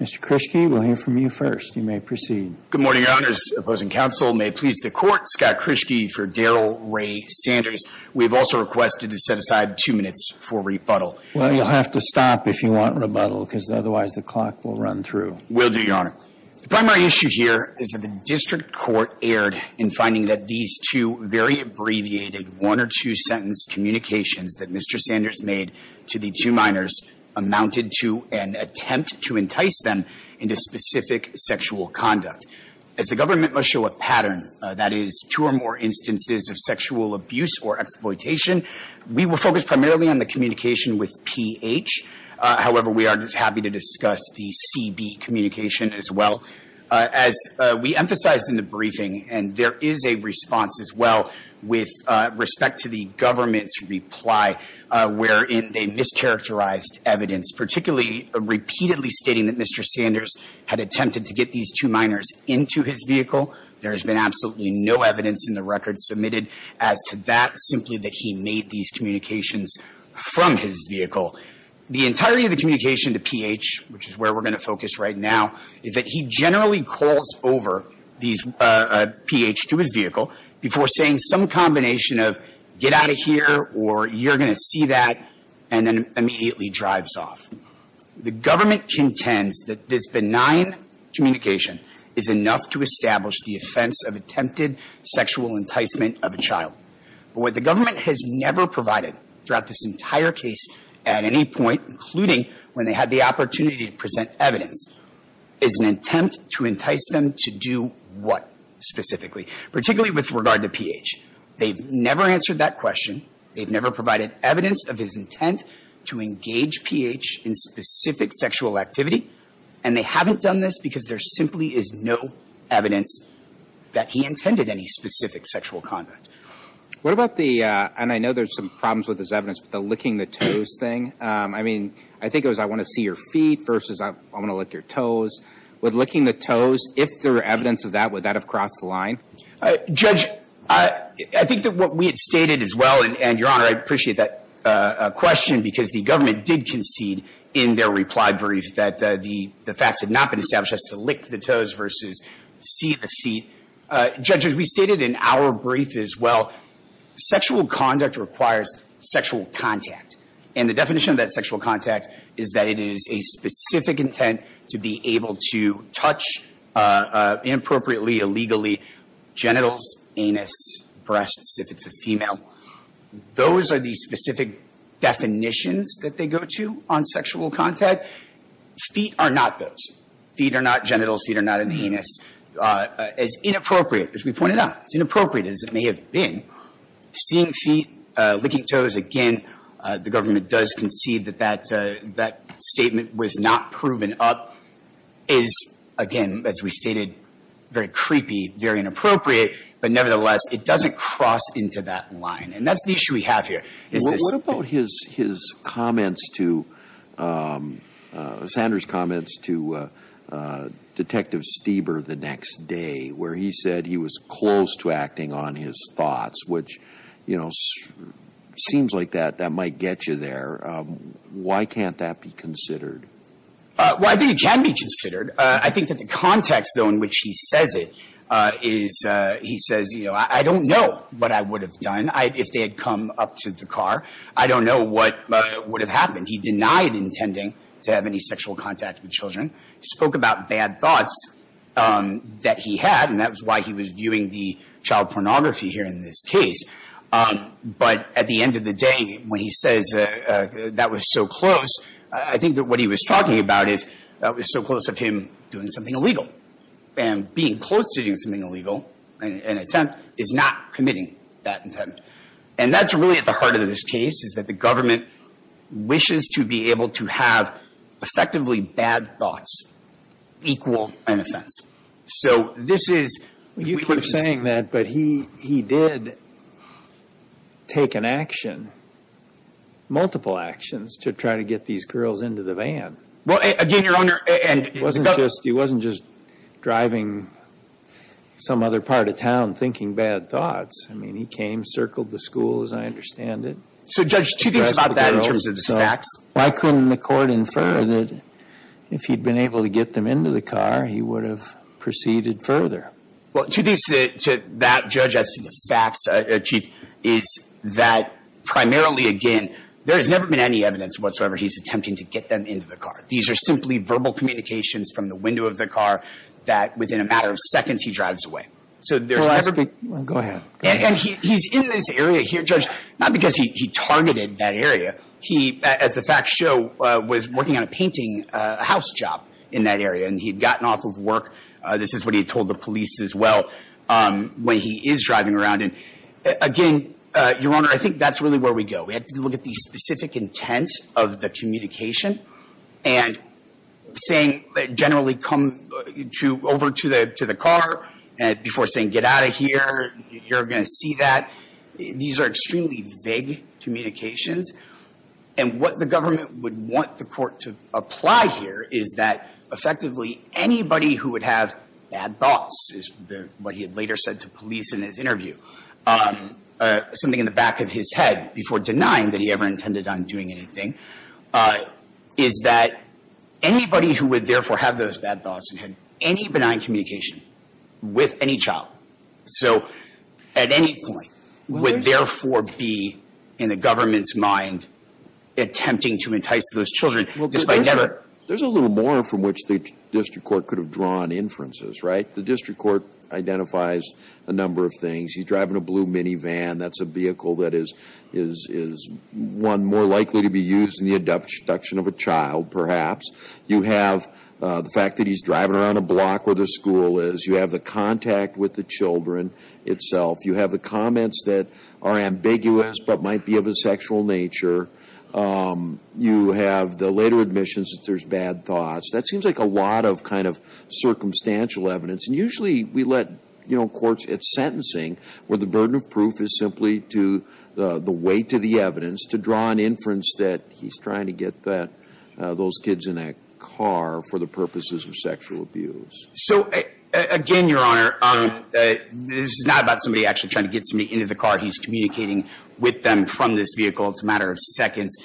Mr. Krischke, we'll hear from you first. Good morning, Your Honors. Opposing counsel may please the Court. Scott Krischke for Darrell Ray Sanders. We have also requested to set aside two minutes for rebuttal. Well, you'll have to stop if you want rebuttal, because otherwise the clock will run through. Will do, Your Honor. The primary issue here is that the district court erred in finding that these two very abbreviated one- or two-sentence communications that Mr. Sanders made to the two minors amounted to an attempt to entice them into specific sexual activity. As the government must show a pattern, that is, two or more instances of sexual abuse or exploitation, we will focus primarily on the communication with PH. However, we are just happy to discuss the CB communication as well. As we emphasized in the briefing, and there is a response as well with respect to the government's reply wherein they mischaracterized evidence, particularly repeatedly stating that Mr. Sanders had attempted to get these two minors into his vehicle. There has been absolutely no evidence in the record submitted as to that, simply that he made these communications from his vehicle. The entirety of the communication to PH, which is where we're going to focus right now, is that he generally calls over PH to his vehicle before saying some combination of, get out of here, or you're going to see that, and then immediately drives off. The government contends that this benign communication is enough to establish the offense of attempted sexual enticement of a child. But what the government has never provided throughout this entire case at any point, including when they had the opportunity to present evidence, is an attempt to entice them to do what specifically, particularly with regard to PH? They've never answered that question. They've never provided evidence of his intent to engage PH in specific sexual activity, and they haven't done this because there simply is no evidence that he intended any specific sexual conduct. What about the, and I know there's some problems with this evidence, but the licking the toes thing? I mean, I think it was I want to see your feet versus I want to lick your toes. With licking the toes, if there were evidence of that, would that have crossed the line? Judge, I think that what we had stated as well, and Your Honor, I appreciate that question, because the government did concede in their reply brief that the facts had not been established as to lick the toes versus see the feet. Judge, as we stated in our brief as well, sexual conduct requires sexual contact. And the definition of that sexual contact is that it is a specific intent to be able to touch, inappropriately, illegally, genitals, anus, breasts, if it's a female. Those are the specific definitions that they go to on sexual contact. Feet are not those. Feet are not genitals, feet are not an anus. It's inappropriate, as we pointed out. It's inappropriate as it may have been. Seeing feet, licking toes, again, the government does concede that that statement was not proven up. Is, again, as we stated, very creepy, very inappropriate, but nevertheless, it doesn't cross into that line. And that's the issue we have here. Is this- What about his comments to, Sanders' comments to Detective Stieber the next day, where he said he was close to acting on his thoughts, which, you know, seems like that might get you there. Why can't that be considered? Well, I think it can be considered. I think that the context, though, in which he says it is, he says, you know, I don't know what I would have done. If they had come up to the car, I don't know what would have happened. He denied intending to have any sexual contact with children. He spoke about bad thoughts that he had, and that was why he was viewing the child pornography here in this case. But at the end of the day, when he says that was so close, I think that what he was talking about is that was so close of him doing something illegal. And being close to doing something illegal, an attempt, is not committing that intent. And that's really at the heart of this case, is that the government wishes to be able to have effectively bad thoughts equal an offense. So this is- You keep saying that, but he did take an action, multiple actions, to try to get these girls into the van. Well, again, Your Honor, and- He wasn't just driving some other part of town thinking bad thoughts. I mean, he came, circled the school, as I understand it. So Judge, two things about that in terms of the facts. Why couldn't the court infer that if he'd been able to get them into the car, he would have proceeded further? Well, two things to that, Judge, as to the facts, Chief, is that primarily, again, there has never been any evidence whatsoever he's attempting to get them into the car. These are simply verbal communications from the window of the car that, within a matter of seconds, he drives away. So there's- Go ahead. And he's in this area here, Judge, not because he targeted that area. He, as the facts show, was working on a painting house job in that area. And he'd gotten off of work, this is what he told the police as well, when he is driving around. And again, Your Honor, I think that's really where we go. We have to look at the specific intent of the communication. And saying, generally, come over to the car before saying, get out of here, you're going to see that. These are extremely vague communications. And what the government would want the court to apply here is that, effectively, anybody who would have bad thoughts, is what he had later said to police in his interview. Something in the back of his head, before denying that he ever intended on doing anything, is that anybody who would therefore have those bad thoughts and had any benign communication with any child, so at any point, would therefore be in the government's mind attempting to entice those children, despite never- Well, there's a little more from which the district court could have drawn inferences, right? The district court identifies a number of things. He's driving a blue minivan. That's a vehicle that is one more likely to be used in the abduction of a child, perhaps. You have the fact that he's driving around a block where the school is. You have the contact with the children itself. You have the comments that are ambiguous, but might be of a sexual nature. You have the later admissions that there's bad thoughts. That seems like a lot of kind of circumstantial evidence. And usually, we let courts at sentencing, where the burden of proof is simply to the weight of the evidence, to draw an inference that he's trying to get those kids in that car for the purposes of sexual abuse. So, again, Your Honor, this is not about somebody actually trying to get somebody into the car. He's communicating with them from this vehicle. It's a matter of seconds.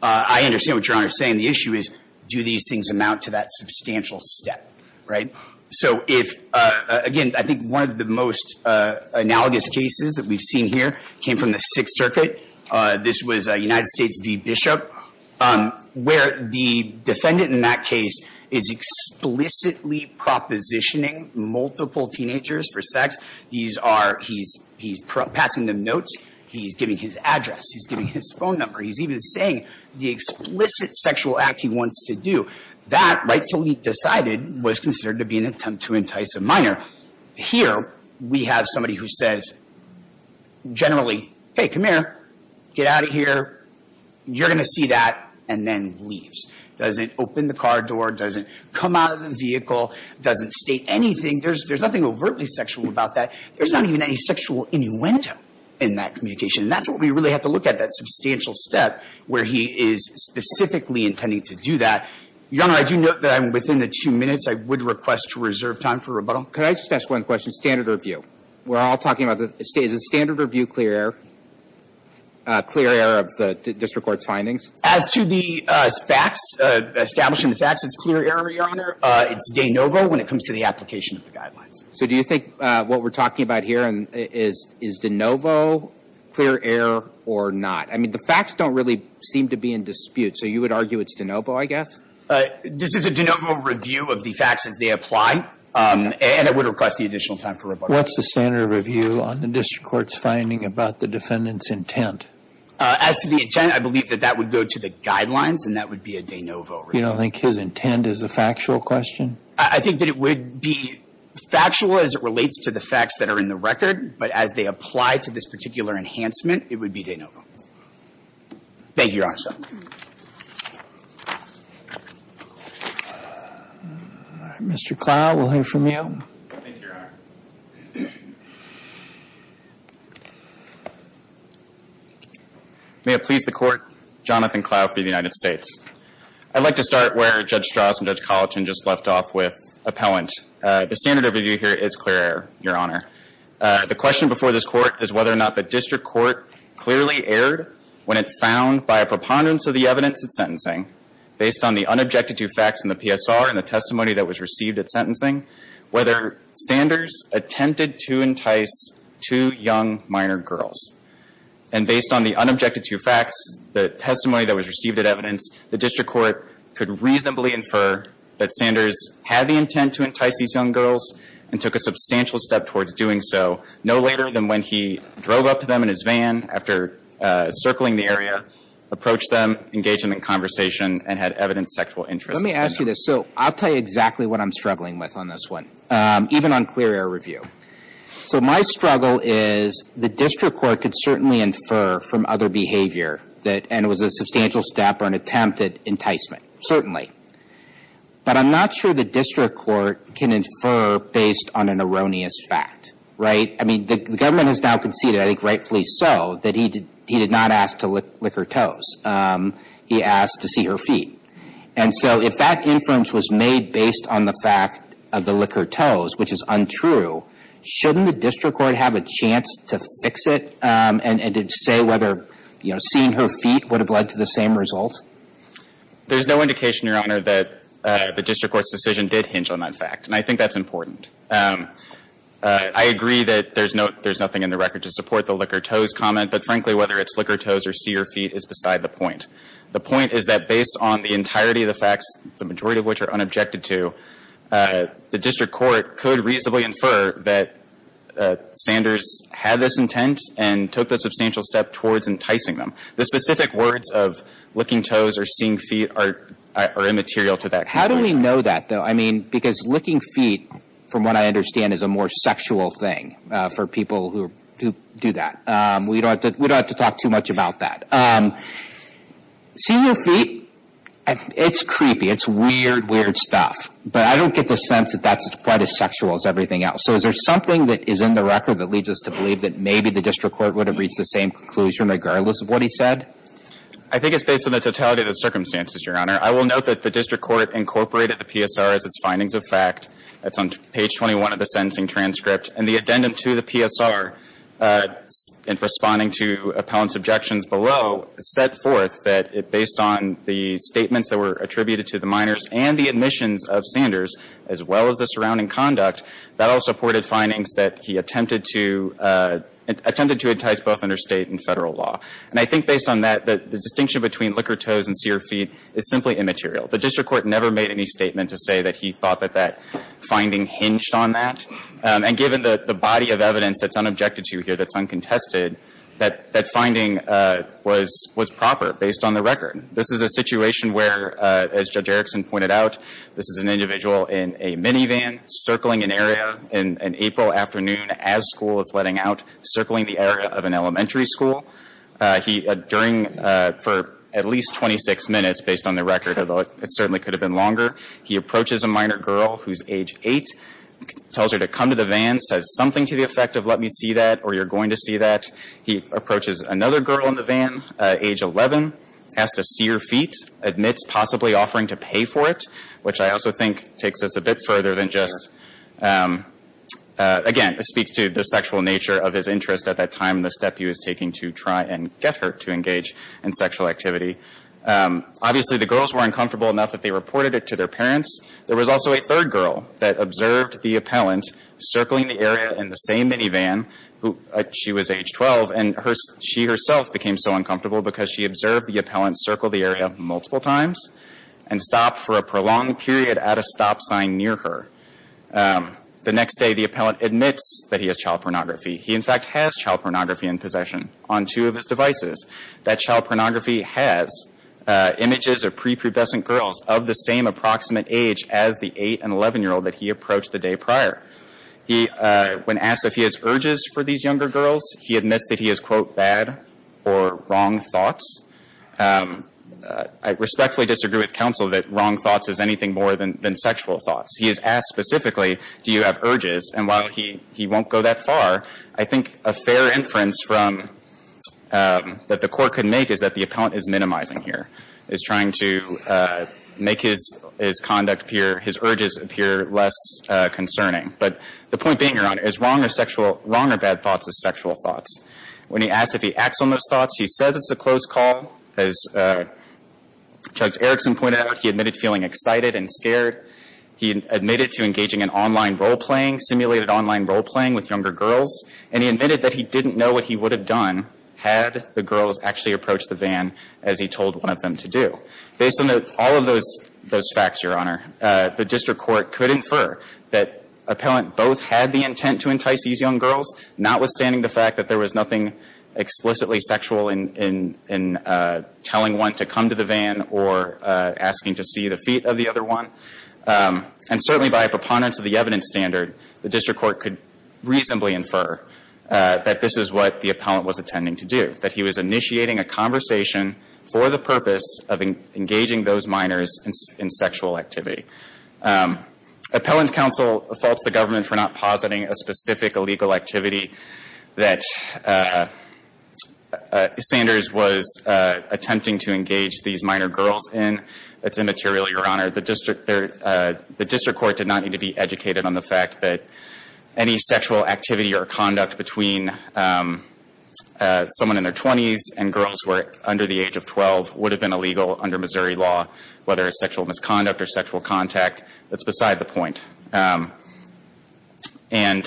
I understand what Your Honor is saying. The issue is, do these things amount to that substantial step, right? So if, again, I think one of the most analogous cases that we've seen here came from the Sixth Circuit. This was United States v. Bishop, where the defendant in that case is explicitly propositioning multiple teenagers for sex. He's passing them notes. He's giving his address. He's giving his phone number. He's even saying the explicit sexual act he wants to do. That, rightfully decided, was considered to be an attempt to entice a minor. Here, we have somebody who says, generally, hey, come here, get out of here. You're going to see that, and then leaves. Doesn't open the car door, doesn't come out of the vehicle, doesn't state anything. There's nothing overtly sexual about that. There's not even any sexual innuendo in that communication. That's what we really have to look at, that substantial step where he is specifically intending to do that. Your Honor, I do note that I'm within the two minutes I would request to reserve time for rebuttal. Could I just ask one question? Standard or view? We're all talking about the standard or view clear error of the district court's findings? As to the facts, establishing the facts, it's clear error, Your Honor. It's de novo when it comes to the application of the guidelines. So do you think what we're talking about here is de novo, clear error or not? I mean, the facts don't really seem to be in dispute, so you would argue it's de novo, I guess? This is a de novo review of the facts as they apply, and I would request the additional time for rebuttal. What's the standard review on the district court's finding about the defendant's intent? As to the intent, I believe that that would go to the guidelines, and that would be a de novo review. You don't think his intent is a factual question? I think that it would be factual as it relates to the facts that are in the record, but as they apply to this particular enhancement, it would be de novo. Thank you, Your Honor. Mr. Clough, we'll hear from you. Thank you, Your Honor. May it please the court, Jonathan Clough for the United States. I'd like to start where Judge Strauss and Judge Colleton just left off with appellant. The standard review here is clear error, Your Honor. The question before this court is whether or not the district court clearly erred when it found by a preponderance of the evidence at sentencing, based on the unobjected to facts in the PSR and the testimony that was received at sentencing, whether Sanders attempted to entice two young minor girls. And based on the unobjected to facts, the testimony that was received at evidence, the district court could reasonably infer that Sanders had the intent to entice these young girls and took a substantial step towards doing so, no later than when he drove up to them in his van after circling the area, approached them, engaged them in conversation, and had evidence of sexual interest. Let me ask you this. So I'll tell you exactly what I'm struggling with on this one, even on clear error review. So my struggle is the district court could certainly infer from other behavior that, and it was a substantial step or an attempt at enticement, certainly. But I'm not sure the district court can infer based on an erroneous fact, right? I mean, the government has now conceded, I think rightfully so, that he did not ask to lick her toes. He asked to see her feet. And so if that inference was made based on the fact of the lick her toes, which is untrue, shouldn't the district court have a chance to fix it and to say whether, you know, seeing her feet would have led to the same result? There's no indication, Your Honor, that the district court's decision did hinge on that fact. And I think that's important. I agree that there's nothing in the record to support the lick her toes comment. But frankly, whether it's lick her toes or see her feet is beside the point. The point is that based on the entirety of the facts, the majority of which are unobjected to, the district court could reasonably infer that Sanders had this intent and took the substantial step towards enticing them. The specific words of licking toes or seeing feet are immaterial to that. How do we know that, though? I mean, because licking feet, from what I understand, is a more sexual thing for people who do that. We don't have to talk too much about that. Seeing her feet, it's creepy. It's weird, weird stuff. But I don't get the sense that that's quite as sexual as everything else. So is there something that is in the record that leads us to believe that maybe the district court would have reached the same conclusion, regardless of what he said? I think it's based on the totality of the circumstances, Your Honor. I will note that the district court incorporated the PSR as its findings of fact. That's on page 21 of the sentencing transcript. And the addendum to the PSR, in responding to appellant's objections below, set forth that based on the statements that were attributed to the minors and the admissions of Sanders, as well as the surrounding conduct, that all supported findings that he attempted to entice both under state and federal law. And I think based on that, the distinction between lick her toes and see her feet is simply immaterial. The district court never made any statement to say that he thought that that finding hinged on that. And given the body of evidence that's unobjected to here, that's uncontested, that that finding was proper, based on the record. This is a situation where, as Judge Erickson pointed out, this is an individual in a minivan circling an area in an April afternoon as school is letting out, circling the area of an elementary school. He, during, for at least 26 minutes, based on the record, although it certainly could have been longer, he approaches a minor girl who's age eight, tells her to come to the van, says something to the effect of, let me see that, or you're going to see that. He approaches another girl in the van, age 11, asks to see her feet, admits possibly offering to pay for it, which I also think takes us a bit further than just, again, speaks to the sexual nature of his interest at that time, the step he was taking to try and get her to engage in sexual activity. Obviously, the girls were uncomfortable enough that they reported it to their parents. There was also a third girl that observed the appellant circling the area in the same minivan. She was age 12, and she herself became so uncomfortable because she observed the appellant circle the area multiple times and stop for a prolonged period at a stop sign near her. The next day, the appellant admits that he has child pornography. He, in fact, has child pornography in possession on two of his devices. That child pornography has images of prepubescent girls of the same approximate age as the 8 and 11-year-old that he approached the day prior. He, when asked if he has urges for these younger girls, he admits that he has, quote, bad or wrong thoughts. I respectfully disagree with counsel that wrong thoughts is anything more than sexual thoughts. He is asked specifically, do you have urges? And while he won't go that far, I think a fair inference that the court could make is that the appellant is minimizing here, is trying to make his conduct appear, his urges appear less concerning. But the point being, Your Honor, is wrong or bad thoughts is sexual thoughts. When he asked if he acts on those thoughts, he says it's a close call. As Chugs Erickson pointed out, he admitted feeling excited and scared. He admitted to engaging in online role playing, simulated online role playing with younger girls. And he admitted that he didn't know what he would have done had the girls actually approached the van as he told one of them to do. Based on all of those facts, Your Honor, the district court could infer that appellant both had the intent to entice these young girls, notwithstanding the fact that there was nothing explicitly sexual in telling one to come to the van or asking to see the feet of the other one. And certainly by a preponderance of the evidence standard, the district court could reasonably infer that this is what the appellant was intending to do, that he was initiating a conversation for the purpose of engaging those minors in sexual activity. Appellant counsel faults the government for not positing a specific illegal activity that Sanders was attempting to engage these minor girls in. That's immaterial, Your Honor. The district court did not need to be educated on the fact that any sexual activity or conduct between someone in their 20s and girls who are under the age of 12 would have been illegal under Missouri law. Whether it's sexual misconduct or sexual contact, that's beside the point. And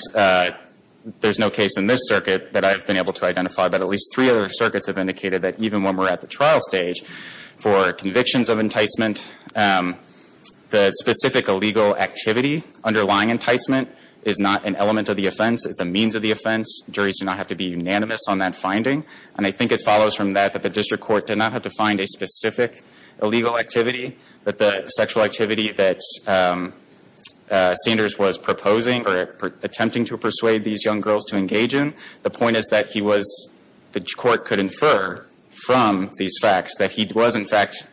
there's no case in this circuit that I've been able to identify, but at least three other circuits have indicated that even when we're at the trial stage for convictions of enticement, the specific illegal activity underlying enticement is not an element of the offense, it's a means of the offense. Juries do not have to be unanimous on that finding. And I think it follows from that that the district court did not have to find a specific illegal activity. But the sexual activity that Sanders was proposing or attempting to persuade these young girls to engage in, the point is that he was, the court could infer from these facts that he was in fact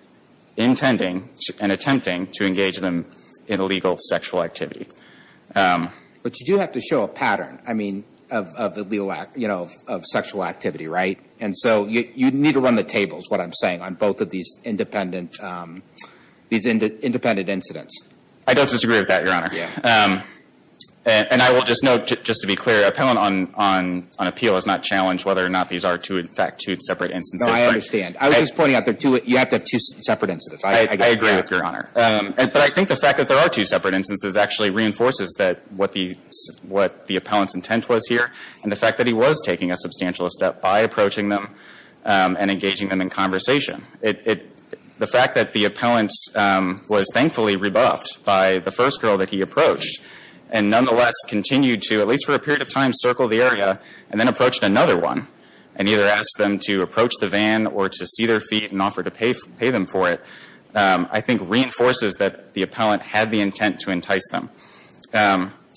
intending and attempting to engage them in illegal sexual activity. But you do have to show a pattern, I mean, of sexual activity, right? And so, you need to run the tables, what I'm saying, on both of these independent incidents. I don't disagree with that, your honor. Yeah. And I will just note, just to be clear, appellant on appeal is not challenged whether or not these are, in fact, two separate instances. No, I understand. I was just pointing out that you have to have two separate instances. I get that. I agree with your honor. But I think the fact that there are two separate instances actually reinforces what the appellant's intent was here. And the fact that he was taking a substantial step by approaching them and engaging them in conversation. The fact that the appellant was thankfully rebuffed by the first girl that he approached, and nonetheless continued to, at least for a period of time, circle the area, and then approached another one. And either asked them to approach the van or to see their feet and offer to pay them for it. I think reinforces that the appellant had the intent to entice them.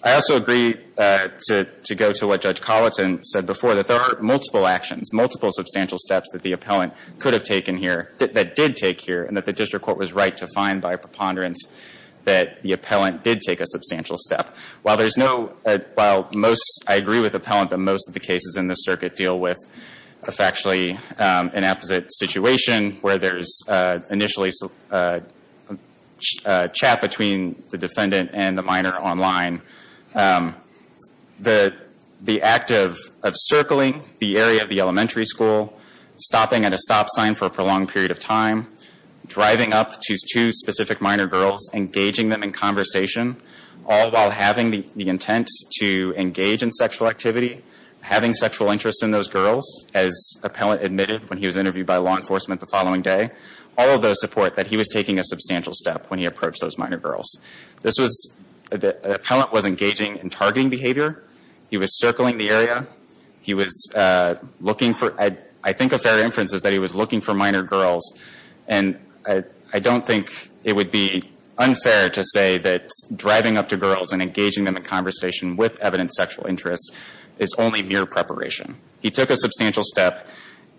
I also agree to go to what Judge Colleton said before, that there are multiple actions, multiple substantial steps that the appellant could have taken here, that did take here, and that the district court was right to find by preponderance that the appellant did take a substantial step. While there's no, while most, I agree with appellant that most of the cases in this circuit deal with a factually inapposite situation where there's initially a chat between the defendant and the minor online. The act of circling the area of the elementary school, stopping at a stop sign for a prolonged period of time, driving up to two specific minor girls, engaging them in conversation, all while having the intent to engage in sexual activity. Having sexual interest in those girls, as appellant admitted when he was interviewed by law enforcement the following day. All of those support that he was taking a substantial step when he approached those minor girls. This was, the appellant was engaging in targeting behavior. He was circling the area. He was looking for, I think a fair inference is that he was looking for minor girls. And I don't think it would be unfair to say that driving up to girls and engaging them in conversation with evident sexual interest is only mere preparation. He took a substantial step.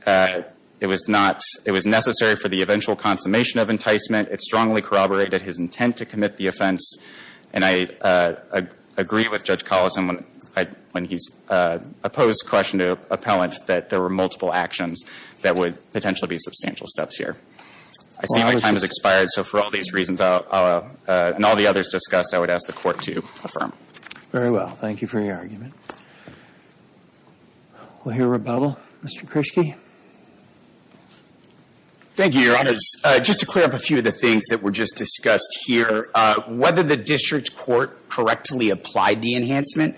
It was necessary for the eventual consummation of enticement. It strongly corroborated his intent to commit the offense. And I agree with Judge Collison when he's opposed question to appellants that there were multiple actions that would potentially be substantial steps here. I see my time has expired, so for all these reasons and all the others discussed, I would ask the court to affirm. Very well, thank you for your argument. We'll hear rebuttal. Mr. Krischke. Thank you, your honors. Just to clear up a few of the things that were just discussed here. Whether the district court correctly applied the enhancement,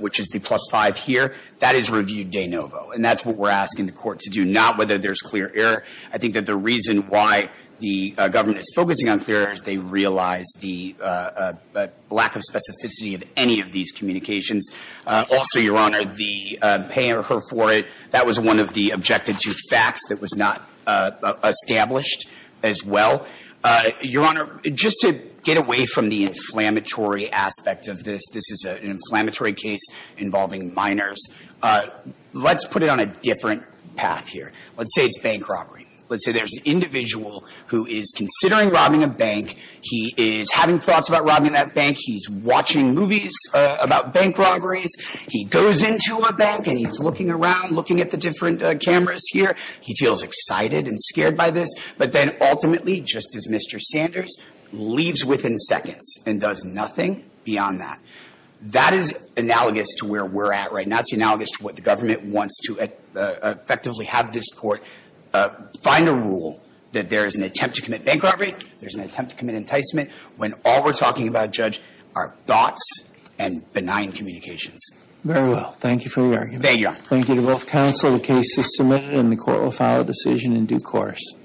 which is the plus five here, that is reviewed de novo. And that's what we're asking the court to do, not whether there's clear error. I think that the reason why the government is focusing on clear error is they realize the lack of specificity of any of these communications. Also, your honor, the pay her for it, that was one of the objective two facts that was not established as well. Your honor, just to get away from the inflammatory aspect of this, this is an inflammatory case involving minors, let's put it on a different path here. Let's say it's bank robbery. Let's say there's an individual who is considering robbing a bank. He is having thoughts about robbing that bank. He's watching movies about bank robberies. He goes into a bank and he's looking around, looking at the different cameras here. He feels excited and scared by this. But then ultimately, just as Mr. Sanders, leaves within seconds and does nothing beyond that. That is analogous to where we're at right now. That's analogous to what the government wants to effectively have this court find a rule that there is an attempt to commit bank robbery. There's an attempt to commit enticement when all we're talking about, Judge, are thoughts and benign communications. Very well, thank you for your argument. Thank you, your honor. Thank you to both counsel, the case is submitted and the court will file a decision in due course.